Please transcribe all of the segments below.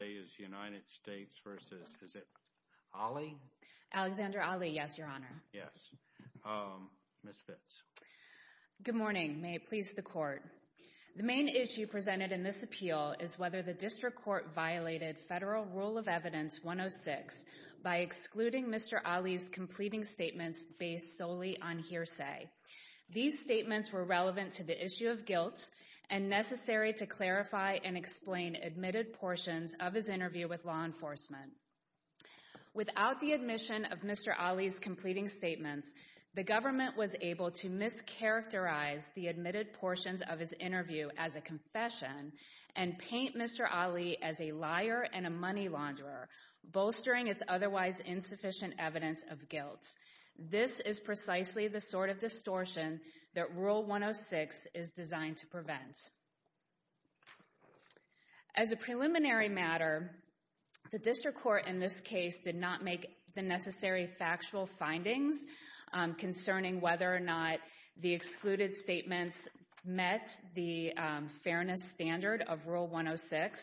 Good morning. May it please the Court. The main issue presented in this appeal is whether the District Court violated Federal Rule of Evidence 106 by excluding Mr. Ali's completing statements based solely on hearsay. These statements were relevant to the issue of guilt and necessary to clarify and explain admitted portions of his interview with law enforcement. Without the admission of Mr. Ali's completing statements, the government was able to mischaracterize the admitted portions of his interview as a confession and paint Mr. Ali as a liar and a money launderer, bolstering its otherwise insufficient evidence of guilt. This is precisely the sort of distortion that Rule 106 is designed to prevent. As a preliminary matter, the District Court in this case did not make the necessary factual findings concerning whether or not the excluded statements met the fairness standard of Rule 106,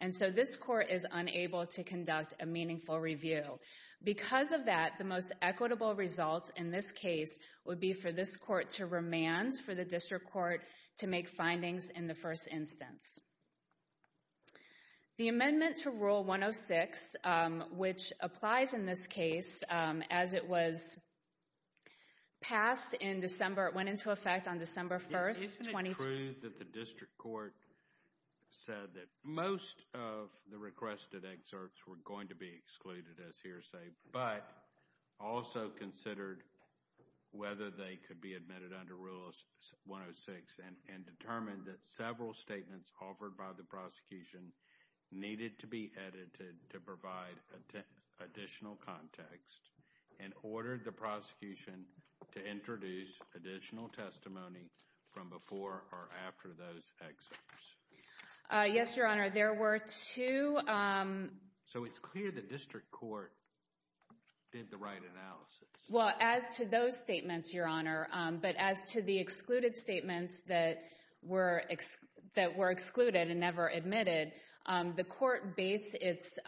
and so this Court is unable to conduct a meaningful review. Because of that, the most equitable result in this case would be for this Court to remand for the District Court to make findings in the first instance. The amendment to Rule 106, which applies in this case as it was passed in December, it went into effect on December 1st, 2020... Most of the requested excerpts were going to be excluded as hearsay, but also considered whether they could be admitted under Rule 106 and determined that several statements offered by the prosecution needed to be edited to provide additional context and ordered the prosecution to introduce additional testimony from before or after those excerpts. Yes, Your Honor, there were two... So it's clear the District Court did the right analysis. Well, as to those statements, Your Honor, but as to the excluded statements that were excluded and never admitted, the Court based its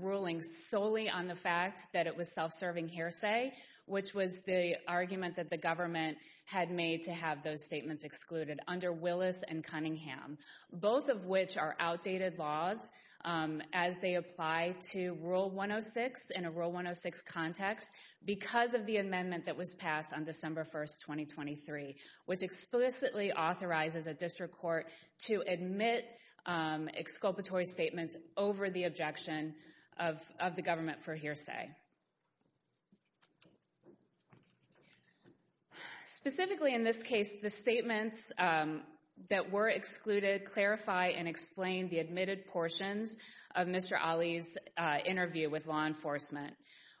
ruling solely on the fact that it was self-serving hearsay, which was the argument that the government had made to have those statements excluded under Willis and Cunningham, both of which are outdated laws as they apply to Rule 106 in a Rule 106 context because of the amendment that was passed on December 1st, 2023, which explicitly authorizes a District Court to admit exculpatory statements over the objection of the government for hearsay. Specifically, in this case, the statements that were excluded clarify and explain the admitted portions of Mr. Ali's interview with law enforcement.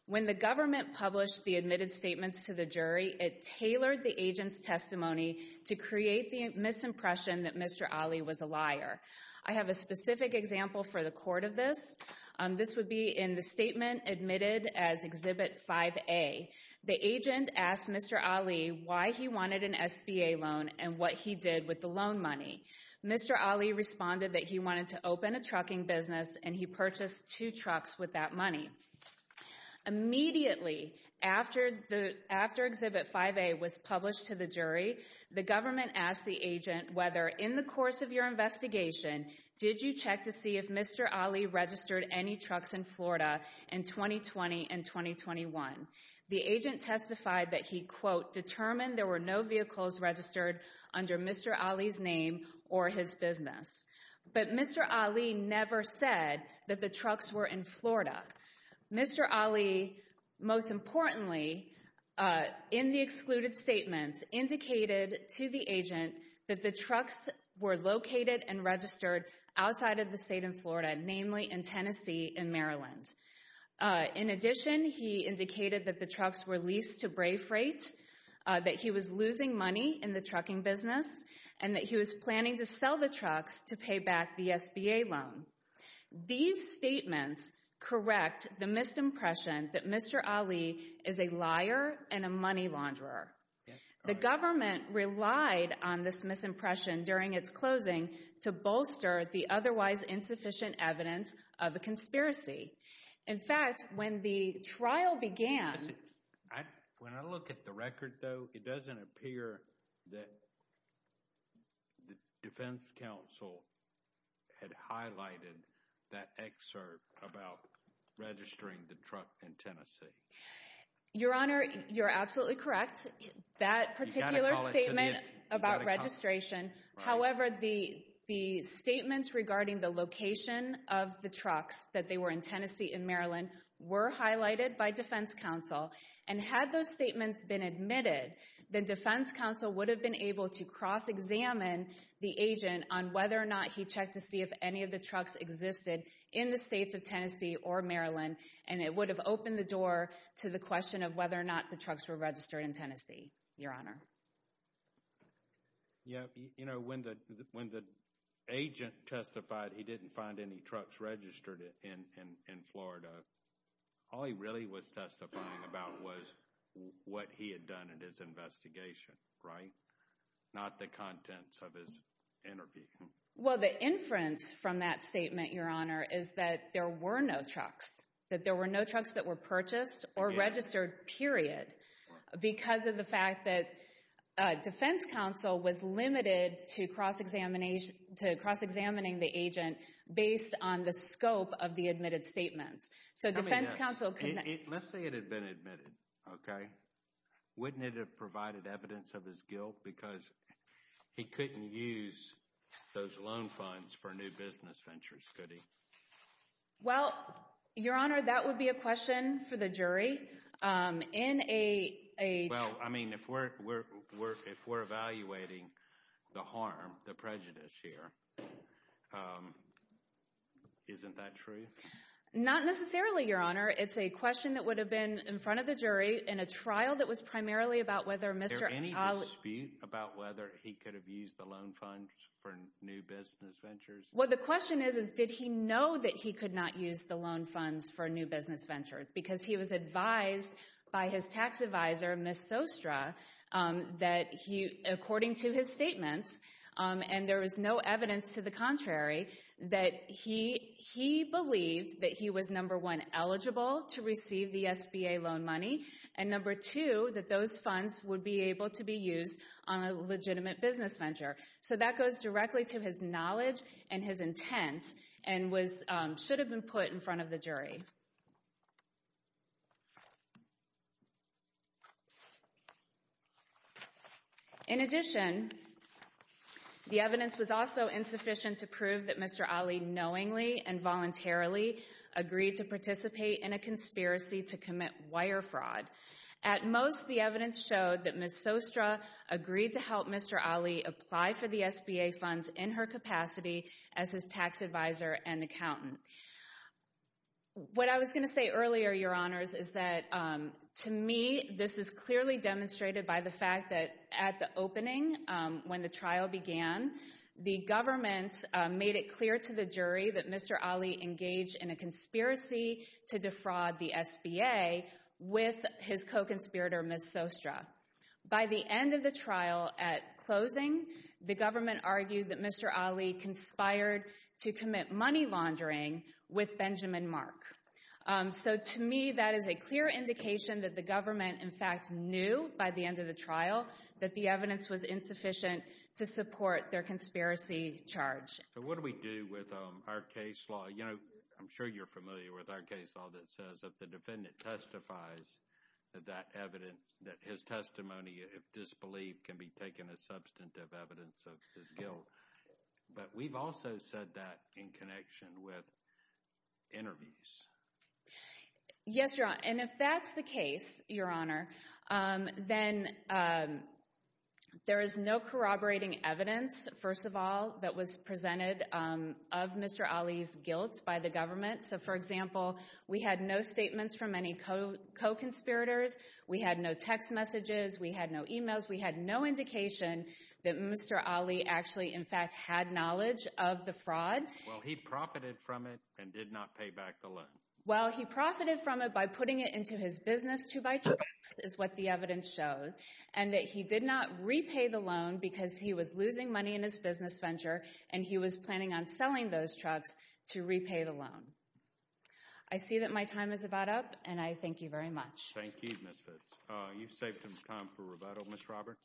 When the government published the admitted statements to the jury, it tailored the agent's testimony to create the misimpression that Mr. Ali was a liar. I have a specific example for the court of this. This would be in the statement admitted as Exhibit 5A. The agent asked Mr. Ali why he wanted an SBA loan and what he did with the loan money. Mr. Ali responded that he wanted to open a trucking business and he purchased two trucks with that money. Immediately after Exhibit 5A was published to the jury, the government asked the agent whether, in the course of your investigation, did you check to see if Mr. Ali registered any trucks in Florida in 2020 and 2021. The agent testified that he quote, determined there were no vehicles registered under Mr. Ali's name or his business. But Mr. Ali never said that the trucks were in Florida. Mr. Ali, most importantly, in the excluded statements indicated to the agent that the trucks were located and registered outside of the state of Florida, namely in Tennessee and Maryland. In addition, he indicated that the trucks were leased to Brae Freight, that he was losing money in the trucking business, and that he was planning to sell the trucks to pay back the SBA loan. These statements correct the misimpression that Mr. Ali is a liar and a money launderer. The government relied on this misimpression during its closing to bolster the otherwise insufficient evidence of a conspiracy. In fact, when the trial began... When I look at the record, though, it doesn't appear that the Defense Counsel had highlighted that excerpt about registering the truck in Tennessee. Your Honor, you're absolutely correct. That particular statement about registration. However, the statements regarding the location of the trucks that they were in Tennessee and Maryland were highlighted by Defense Counsel. And had those statements been admitted, then Defense Counsel would have been able to cross-examine the agent on whether or not he checked to see if any of the trucks existed in the states of Tennessee or Maryland, and it would have opened the door to the question of whether or not the trucks were registered in Tennessee, Your Honor. Yeah, you know, when the agent testified he didn't find any trucks registered in Florida. All he really was testifying about was what he had done in his investigation, right? Not the contents of his interview. Well, the inference from that statement, Your Honor, is that there were no trucks. That there were no trucks that were purchased or registered, period. Because of the fact that Defense Counsel was limited to cross-examining the agent based on the scope of the admitted statements. Let's say it had been admitted, okay? Wouldn't it have provided evidence of his guilt because he couldn't use those loan funds for new business ventures, could he? Well, Your Honor, that would be a question for the jury. In a... Well, I mean, if we're evaluating the harm, the prejudice here, isn't that true? Not necessarily, Your Honor. It's a question that would have been in front of the jury in a trial that was primarily about whether Mr. Allen... Is there any dispute about whether he could have used the loan funds for new business ventures? Well, the question is did he that he could not use the loan funds for new business ventures? Because he was advised by his tax advisor, Ms. Sostra, that according to his statements, and there was no evidence to the contrary, that he believed that he was number one, eligible to receive the SBA loan money, and number two, that those funds would be able to be used on a legitimate business venture. So that goes directly to his knowledge and his intent and should have been put in front of the jury. In addition, the evidence was also insufficient to prove that Mr. Ali knowingly and voluntarily agreed to participate in a conspiracy to commit wire fraud. At most, the evidence showed that Ms. Sostra agreed to help Mr. Ali apply for the SBA funds in her capacity as his tax advisor and accountant. What I was going to say earlier, Your Honors, is that to me, this is clearly demonstrated by the fact that at the opening, when the trial began, the government made it clear to the jury that Mr. Ali engaged in a conspiracy to defraud the SBA with his co-conspirator, Ms. Sostra. By the end of the trial, at closing, the government argued that Mr. Ali conspired to commit money laundering with Benjamin Mark. So to me, that is a clear indication that the government, in fact, knew by the end of the trial that the evidence was insufficient to support their conspiracy charge. So what do we do with our case law? You know, I'm sure you're familiar with our case law that says if the defendant testifies that that evidence, that his testimony, if disbelieved, can be taken as substantive evidence of his guilt. But we've also said that in connection with interviews. Yes, Your Honor. And if that's the case, Your Honor, then there is no corroborating evidence, first of all, that was presented of Mr. Ali's guilt by the government. So, for example, we had no statements from any co-conspirators, we had no text messages, we had no emails, we had no indication that Mr. Ali actually, in fact, had knowledge of the fraud. Well, he profited from it and did not pay back the loan. Well, he profited from it by putting it into his business to buy trucks, is what the evidence shows, and that he did not repay the loan because he was losing money in his business venture and he was planning on selling those trucks to repay the loan. I see that my time is about up and I thank you very much. Thank you, Ms. Fitz. You've saved us time for rebuttal, Ms. Roberts.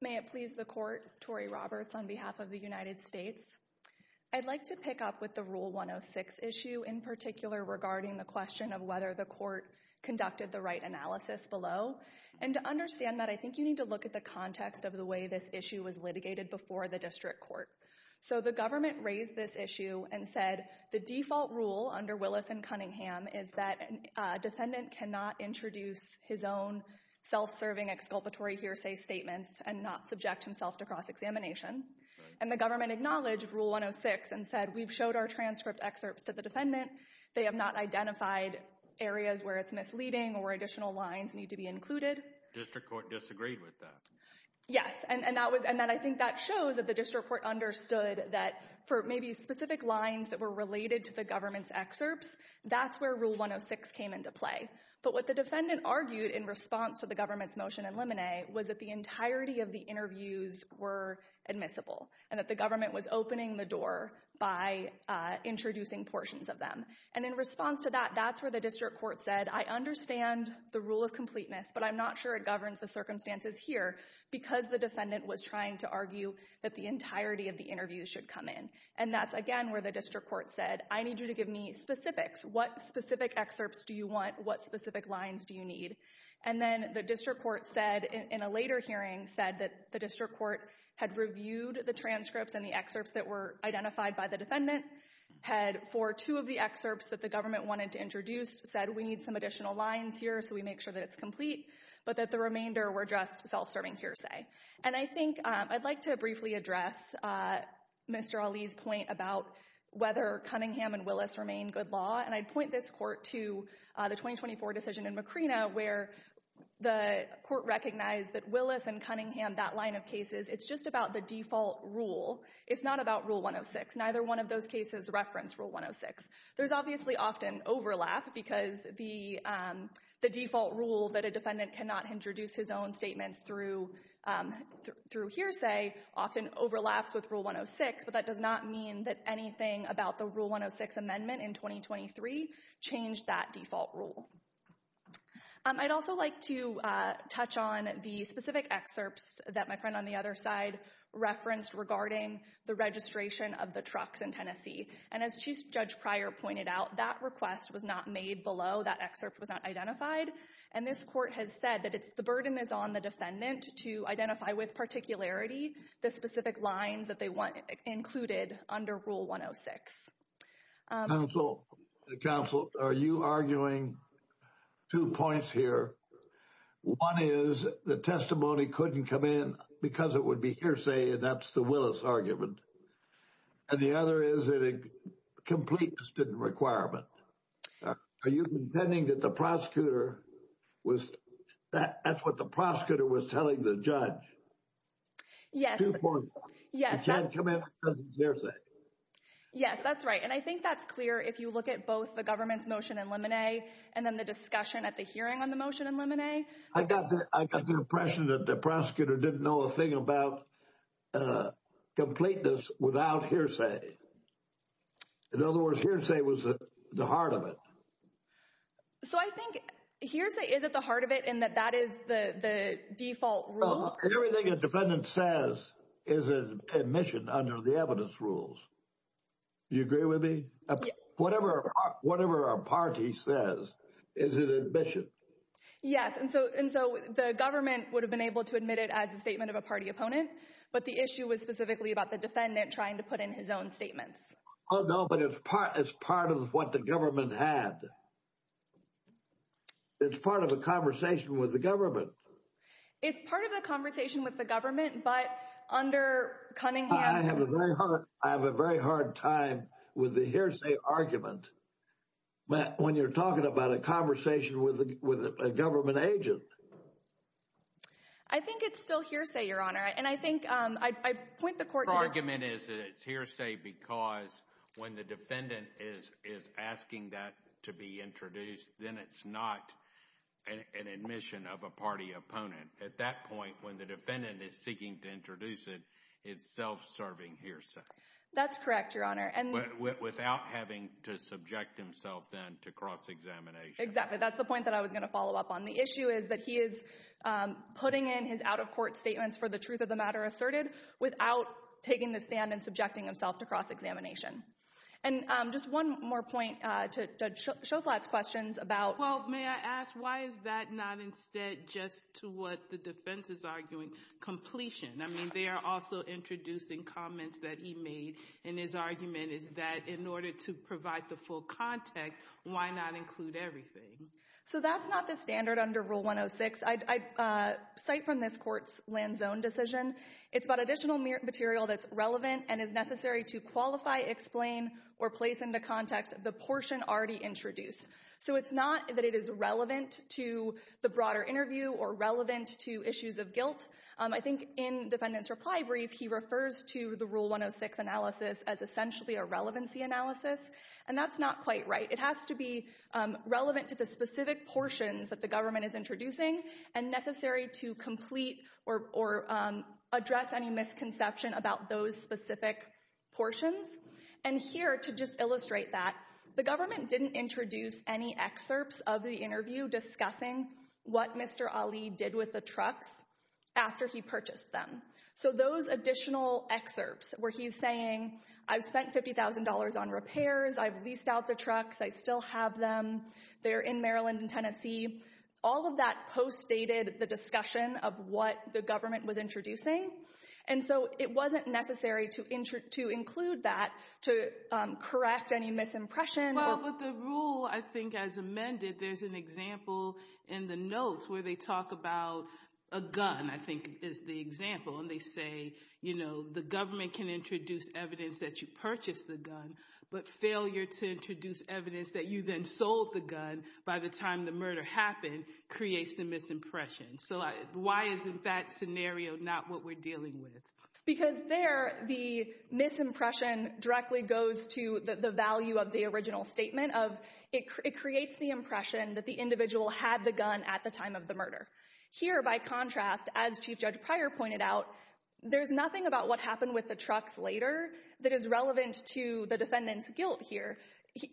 May it please the Court, Tori Roberts on behalf of the United States. I'd like to pick up with the Rule 106 issue in particular regarding the question of whether the court conducted the right analysis below and to understand that, I think you need to look at the context of the way this issue was litigated before the district court. So, the government raised this issue and said the default rule under Willis and Cunningham is that a defendant cannot introduce his own self-serving exculpatory hearsay statements and not subject himself to cross-examination. And the government acknowledged Rule 106 and said we've showed our transcript excerpts to the defendant. They have not identified areas where it's misleading or where additional lines need to be included. District court disagreed with that. Yes, and that was, and then I think that shows that the district court understood that for maybe specific lines that were related to the government's excerpts, that's where Rule 106 came into play. But what the defendant argued in response to the government's motion in Lemonet was that the entirety of the interviews were admissible and that the government was opening the door by introducing portions of them. And in response to that, that's where the district court said, I understand the rule of completeness, but I'm not sure it governs the circumstances here because the defendant was trying to argue that the entirety of the interviews should come in. And that's again where the district court said, I need you to give me specifics. What specific excerpts do you want? What specific lines do you need? And then the district court said in a later hearing said that the district court had reviewed the transcripts and the excerpts that were identified by the defendant, had for two of the excerpts that the government wanted to introduce said we need some additional lines here so we make sure that it's complete, but that the remainder were just self-serving hearsay. And I think I'd like to address Mr. Ali's point about whether Cunningham and Willis remain good law. And I'd point this court to the 2024 decision in Macrina where the court recognized that Willis and Cunningham, that line of cases, it's just about the default rule. It's not about Rule 106. Neither one of those cases reference Rule 106. There's obviously often overlap because the default rule that a overlaps with Rule 106, but that does not mean that anything about the Rule 106 amendment in 2023 changed that default rule. I'd also like to touch on the specific excerpts that my friend on the other side referenced regarding the registration of the trucks in Tennessee. And as Chief Judge Pryor pointed out, that request was not made below. That excerpt was not identified. And this court has said that it's the burden is on the defendant to identify with particularity the specific lines that they want included under Rule 106. Counsel, are you arguing two points here? One is the testimony couldn't come in because it would be hearsay and that's the Willis argument. And the other is that a completeness didn't requirement. Are you contending that the prosecutor was, that's what the prosecutor was telling the judge? Yes. Two points. You can't come in because it's hearsay. Yes, that's right. And I think that's clear if you look at both the government's motion in Lemonet and then the discussion at the hearing on the motion in Lemonet. I got the impression that the prosecutor didn't know a thing about completeness without hearsay. In other words, hearsay was the heart of it. So I think hearsay is at the heart of it and that that is the default rule. Everything a defendant says is an admission under the evidence rules. Do you agree with me? Whatever a party says is an admission. Yes, and so the government would have been able to admit it as a statement of a party opponent, but the issue was specifically about the defendant trying to put in his own statements. Oh no, but it's part of what the government had. It's part of a conversation with the government. It's part of the conversation with the government, but under Cunningham... I have a very hard time with the hearsay argument when you're talking about a conversation with a government agent. I think it's still hearsay, Your Honor, and I think I point the court to... It's hearsay because when the defendant is asking that to be introduced, then it's not an admission of a party opponent. At that point, when the defendant is seeking to introduce it, it's self-serving hearsay. That's correct, Your Honor. Without having to subject himself then to cross-examination. Exactly. That's the point that I was going to follow up on. The issue is that he is putting in his out-of-court statements for the truth of the matter asserted without taking the stand and subjecting himself to cross-examination. Just one more point to Shoflat's questions about... Well, may I ask, why is that not instead just to what the defense is arguing? Completion. I mean, they are also introducing comments that he made in his argument is that in order to provide the full context, why not include everything? That's not the standard under Rule 106. Aside from this court's land zone decision, it's about additional material that's relevant and is necessary to qualify, explain, or place into context the portion already introduced. So it's not that it is relevant to the broader interview or relevant to issues of guilt. I think in defendant's reply brief, he refers to the Rule 106 analysis as essentially a relevancy analysis, and that's not quite right. It has to be relevant to the specific portions that the government is introducing and necessary to complete or address any misconception about those specific portions. And here, to just illustrate that, the government didn't introduce any excerpts of the interview discussing what Mr. Ali did with the trucks after he purchased them. So those additional excerpts where he's saying, I've spent $50,000 on repairs, I've leased out the trucks, I still have them, they're in Maryland and Tennessee, all of that postdated the discussion of what the government was introducing. And so it wasn't necessary to include that to correct any misimpression. Well, with the rule, I think as amended, there's an example in the notes where they talk about a gun, I think is the example. And they say, you know, the government can introduce evidence that you purchased the gun, but failure to introduce evidence that you then sold the gun by the time the murder happened creates the misimpression. So why isn't that scenario not what we're dealing with? Because there, the misimpression directly goes to the value of the original statement of, it creates the impression that the individual had the gun at the time of the murder. Here, by contrast, as Chief Judge Pryor pointed out, there's nothing about what happened with the trucks later that is relevant to the defendant's guilt here.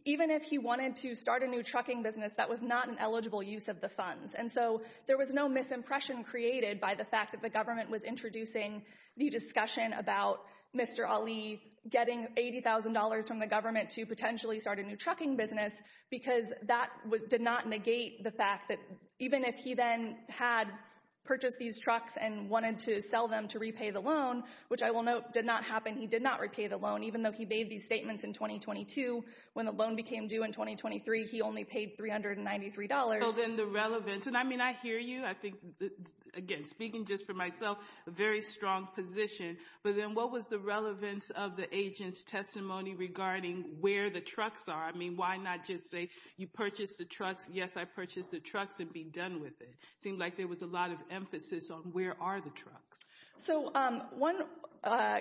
Even if he wanted to start a new trucking business, that was not an eligible use of the funds. And so there was no misimpression created by the fact that the government was introducing the discussion about Mr. Ali getting $80,000 from the government to potentially start a new trucking business, because that did not negate the fact that even if he then had purchased these trucks and wanted to sell them to repay the loan, which I will note did not happen, he did not repay the loan, even though he made these statements in 2022. When the loan became due in 2023, he only paid $393. So then the relevance, and I mean, I hear you. I think, again, speaking just for myself, a very strong position. But then what was the relevance of the agent's testimony regarding where the trucks are? I mean, why not just say you purchased the trucks. Yes, I purchased the trucks and be done with it. It seemed like there was a lot of emphasis on where are the trucks. So one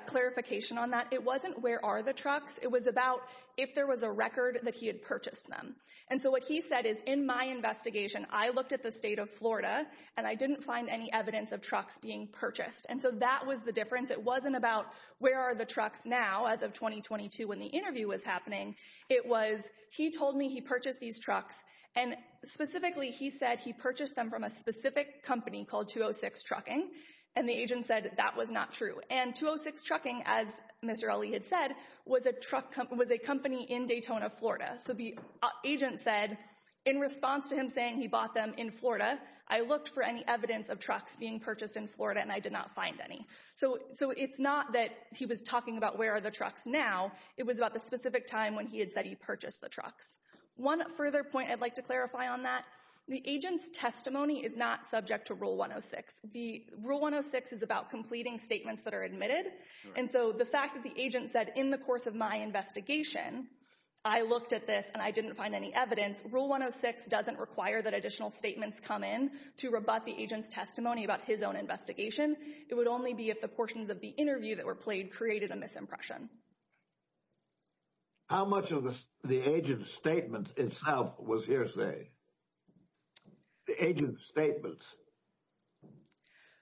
clarification on that, it wasn't where are the trucks. It was about if there was a record that he had purchased them. And so what he said is in my investigation, I looked at the state of Florida, and I didn't find any evidence of trucks being purchased. And so that was the difference. It wasn't about where are the trucks now as of 2022 when the interview was happening. It was he told me he purchased these trucks, and specifically he said he purchased them from a specific company called 206 Trucking. And the agent said that was not true. And 206 Trucking, as Mr. Ali had said, was a truck company, was a company in Daytona, Florida. So the agent said in response to him saying he bought them in Florida, I looked for any evidence of trucks being purchased in Florida, and I did not find any. So it's not that he was talking about the trucks now. It was about the specific time when he had said he purchased the trucks. One further point I'd like to clarify on that, the agent's testimony is not subject to Rule 106. Rule 106 is about completing statements that are admitted. And so the fact that the agent said in the course of my investigation, I looked at this and I didn't find any evidence. Rule 106 doesn't require that additional statements come in to rebut the agent's testimony about his own investigation. It would only be if the portions of the interview that were played created a misimpression. How much of the agent's statement itself was hearsay? The agent's statements?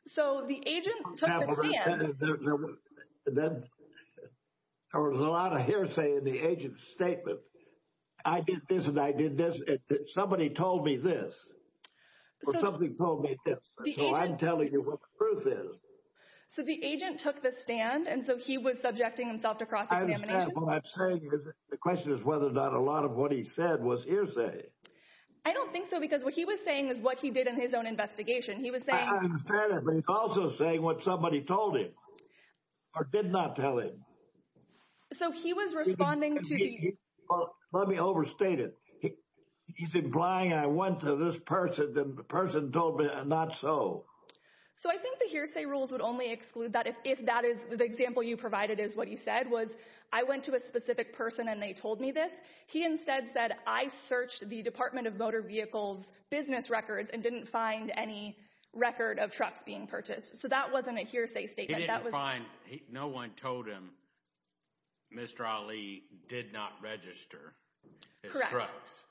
So the agent took the stand. There was a lot of hearsay in the agent's statement. I did this and I did this. Somebody told me this. Or something told me this. So I'm telling you what the truth is. So the agent took the stand and so he was subjecting himself to cross-examination? I understand. What I'm saying is the question is whether or not a lot of what he said was hearsay. I don't think so because what he was saying is what he did in his own investigation. He was saying... I understand that, but he's also saying what somebody told him or did not tell him. So he was responding to the... Let me overstate it. He's implying I went to this person and the person told me not so. So I think the hearsay rules would only exclude that if that is the example you provided is what he said was I went to a specific person and they told me this. He instead said I searched the Department of Motor Vehicles business records and didn't find any record of trucks being purchased. So that wasn't a hearsay statement. He didn't find... No one told him Mr. Ali did not register his trucks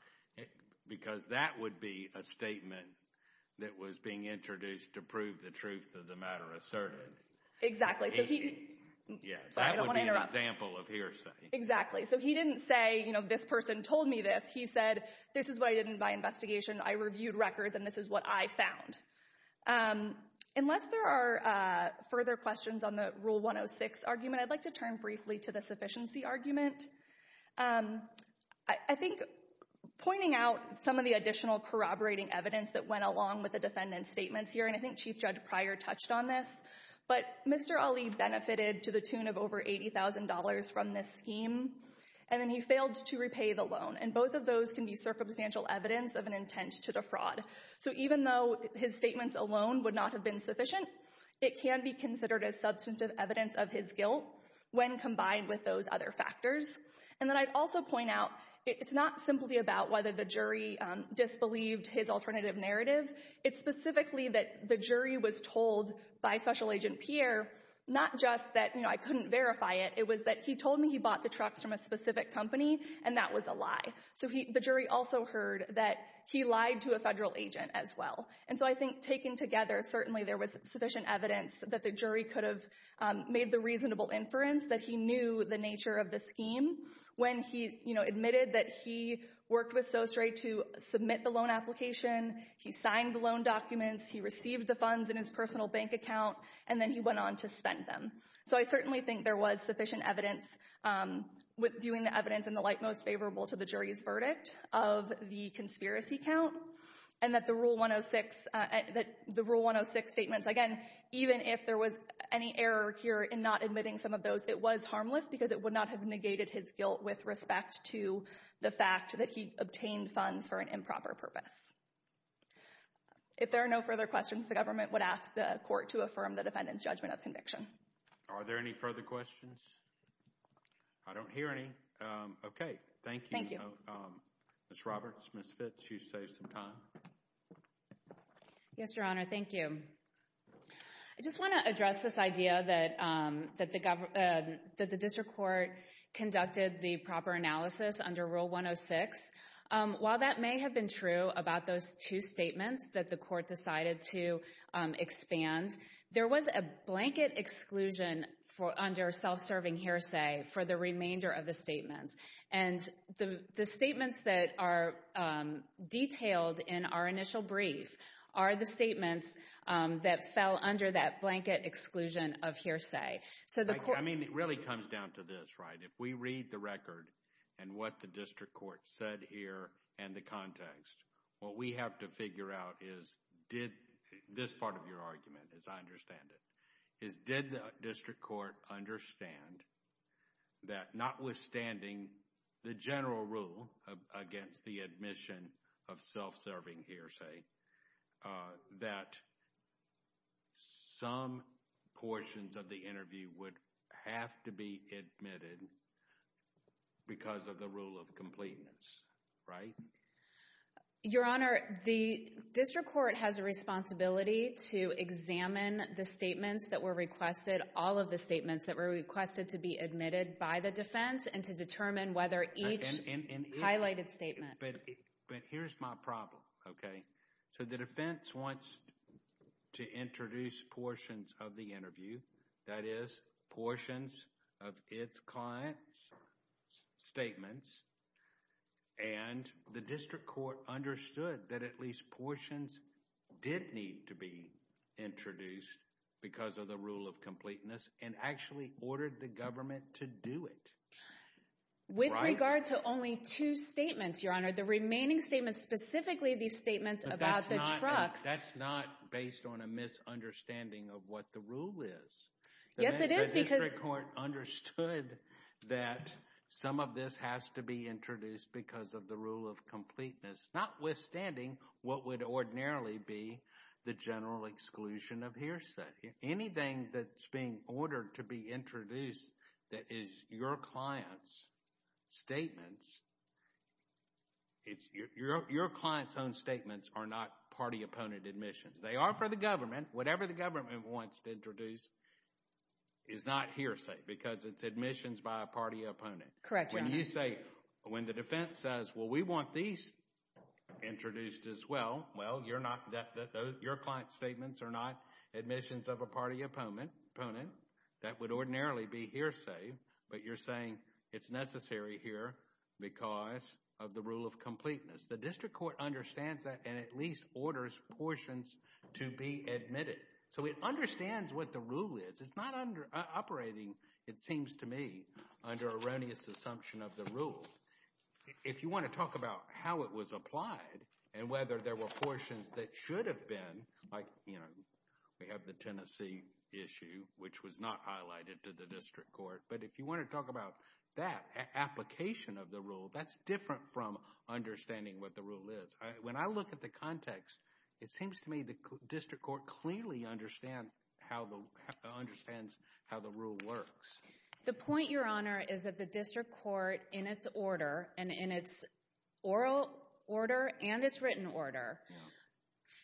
because that would be a statement that was being introduced to prove the truth of the matter of certainty. Exactly. That would be an example of hearsay. Exactly. So he didn't say, you know, this person told me this. He said, this is what I did in my investigation. I reviewed records and this is what I found. Unless there are further questions on the Rule 106 argument, I'd like to turn briefly to the sufficiency argument. I think pointing out some of the additional corroborating evidence that went along with the defendant's statements here, and I think Chief Judge Pryor touched on this, but Mr. Ali benefited to the tune of over $80,000 from this scheme and then he failed to repay the loan. And both of those can be circumstantial evidence of an intent to defraud. So even though his statements alone would not have been sufficient, it can be considered as substantive evidence of his guilt when combined with those other factors. And then I'd also point out, it's not simply about whether the jury disbelieved his alternative narrative. It's specifically that the jury was told by Special Agent Pryor, not just that, you know, I couldn't verify it. It was that he told me he bought the trucks from a specific company and that was a lie. So the jury also heard that he lied to a federal agent as well. And so I think taken together, certainly there was sufficient evidence that the jury could have made the reasonable inference that he knew the nature of the scheme when he, you know, admitted that he worked with SOS Ray to submit the loan application, he signed the loan documents, he received the funds in his personal bank account, and then he went on to spend them. So I certainly think there was sufficient evidence, with viewing the evidence in the light most favorable to the jury's verdict of the conspiracy count, and that the Rule 106, that the Rule 106 statements, again, even if there was any error here in not admitting some of those, it was harmless because it would not have negated his guilt with respect to the fact that he obtained funds for an improper purpose. If there are no further questions, the government would ask the court to affirm the defendant's judgment of conviction. Are there any further questions? I don't hear any. Okay, thank you. Ms. Roberts, Ms. Fitz, you saved some time. Yes, Your Honor, thank you. I just want to address this idea that the district court conducted the proper analysis under Rule 106. While that may have been true about those two statements that the court decided to expand, there was a blanket exclusion under self-serving hearsay for the remainder of the statements. And the statements that are detailed in our initial brief are the statements that fell under that blanket exclusion of hearsay. I mean, it really comes down to this, right? If we read the record and what the district court said here and the what we have to figure out is did this part of your argument, as I understand it, is did the district court understand that notwithstanding the general rule against the admission of self-serving hearsay, that some portions of the interview would have to be admitted because of the rule of completeness, right? Your Honor, the district court has a responsibility to examine the statements that were requested, all of the statements that were requested to be admitted by the defense and to determine whether each highlighted statement. But here's my problem, okay? So the defense wants to introduce portions of the interview, that is, portions of its client's statements, and the district court understood that at least portions did need to be introduced because of the rule of completeness and actually ordered the government to do it. With regard to only two statements, Your Honor, the remaining statements, specifically these statements about the trucks. That's not based on a misunderstanding of what the rule is. Yes, it is because... The district court understood that some of this has to be introduced because of the rule of completeness, notwithstanding what would ordinarily be the general exclusion of hearsay. Anything that's being ordered to be introduced that is your client's statements, it's your client's own statements are not party-opponent admissions. They are for the is not hearsay because it's admissions by a party opponent. Correct. When you say, when the defense says, well, we want these introduced as well, well, you're not that your client's statements are not admissions of a party opponent that would ordinarily be hearsay, but you're saying it's necessary here because of the rule of completeness. The district court understands that and at least orders portions to be admitted. So it understands what the rule is. It's not under operating, it seems to me, under erroneous assumption of the rule. If you want to talk about how it was applied and whether there were portions that should have been, like, you know, we have the Tennessee issue, which was not highlighted to the district court. But if you want to talk about that application of the rule, that's different from understanding what rule is. When I look at the context, it seems to me the district court clearly understand how the understands how the rule works. The point, your honor, is that the district court in its order and in its oral order and its written order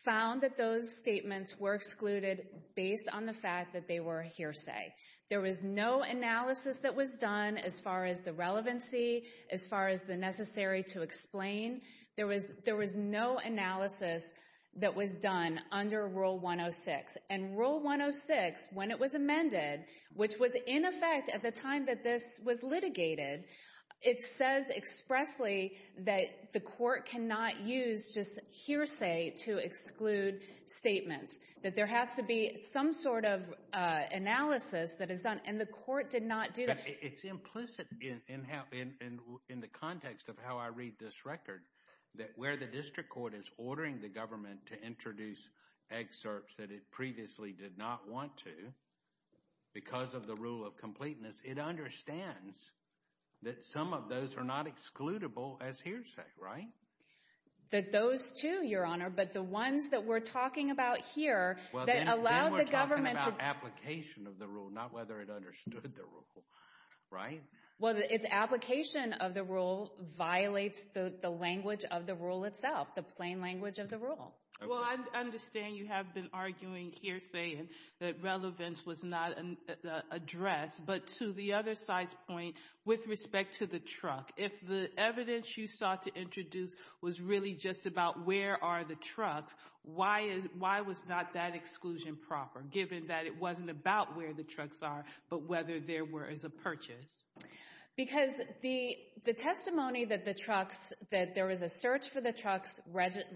found that those statements were excluded based on the fact that they were hearsay. There was no analysis that was done as far as the as far as the necessary to explain. There was no analysis that was done under Rule 106. And Rule 106, when it was amended, which was in effect at the time that this was litigated, it says expressly that the court cannot use just hearsay to exclude statements. That there has to some sort of analysis that is done. And the court did not do that. It's implicit in how in the context of how I read this record that where the district court is ordering the government to introduce excerpts that it previously did not want to because of the rule of completeness, it understands that some of those are not excludable as hearsay, right? That those two, your honor, but the ones that we're talking about here that allowed the government to... Well, then we're talking about application of the rule, not whether it understood the rule, right? Well, its application of the rule violates the language of the rule itself, the plain language of the rule. Well, I understand you have been arguing hearsay and that relevance was not addressed. But to the other side's point, with respect to the truck, if the evidence you sought to introduce was really just about where are the trucks, why was not that exclusion proper, given that it wasn't about where the trucks are, but whether there were as a purchase? Because the testimony that there was a search for the trucks,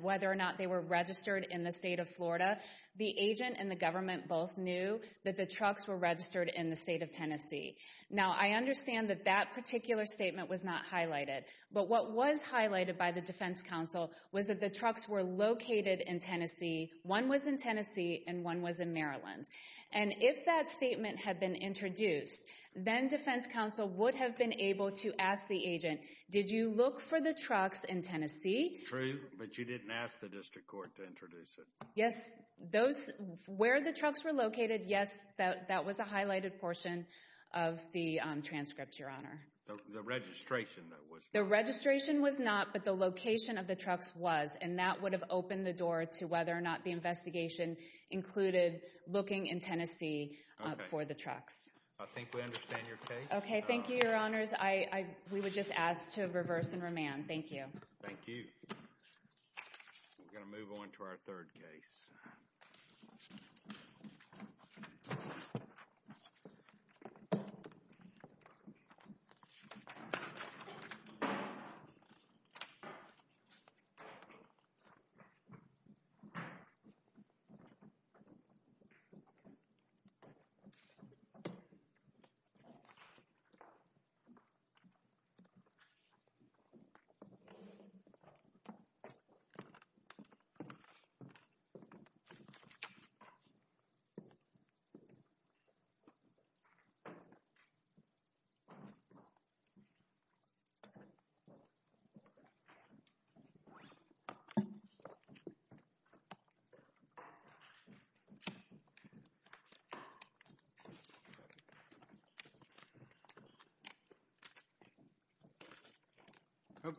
whether or not they were registered in the state of Florida, the agent and the government both knew that the trucks were registered in the state of Tennessee. Now, I understand that that particular statement was not highlighted, but what was highlighted by the defense counsel was that the trucks were located in Tennessee. One was in Tennessee and one was in Maryland. And if that statement had been introduced, then defense counsel would have been able to ask the agent, did you look for the trucks in Tennessee? True, but you didn't ask the district court to introduce it. Yes, where the trucks were located, yes, that was a highlighted portion of the transcript, Your Honor. The registration was not, but the location of the trucks was, and that would have opened the door to whether or not the investigation included looking in Tennessee for the trucks. I think we understand your case. Okay, thank you, Your Honors. We would just ask to reverse and remand. Thank you. Thank you. We're going to move on to our third case.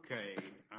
Okay. Okay.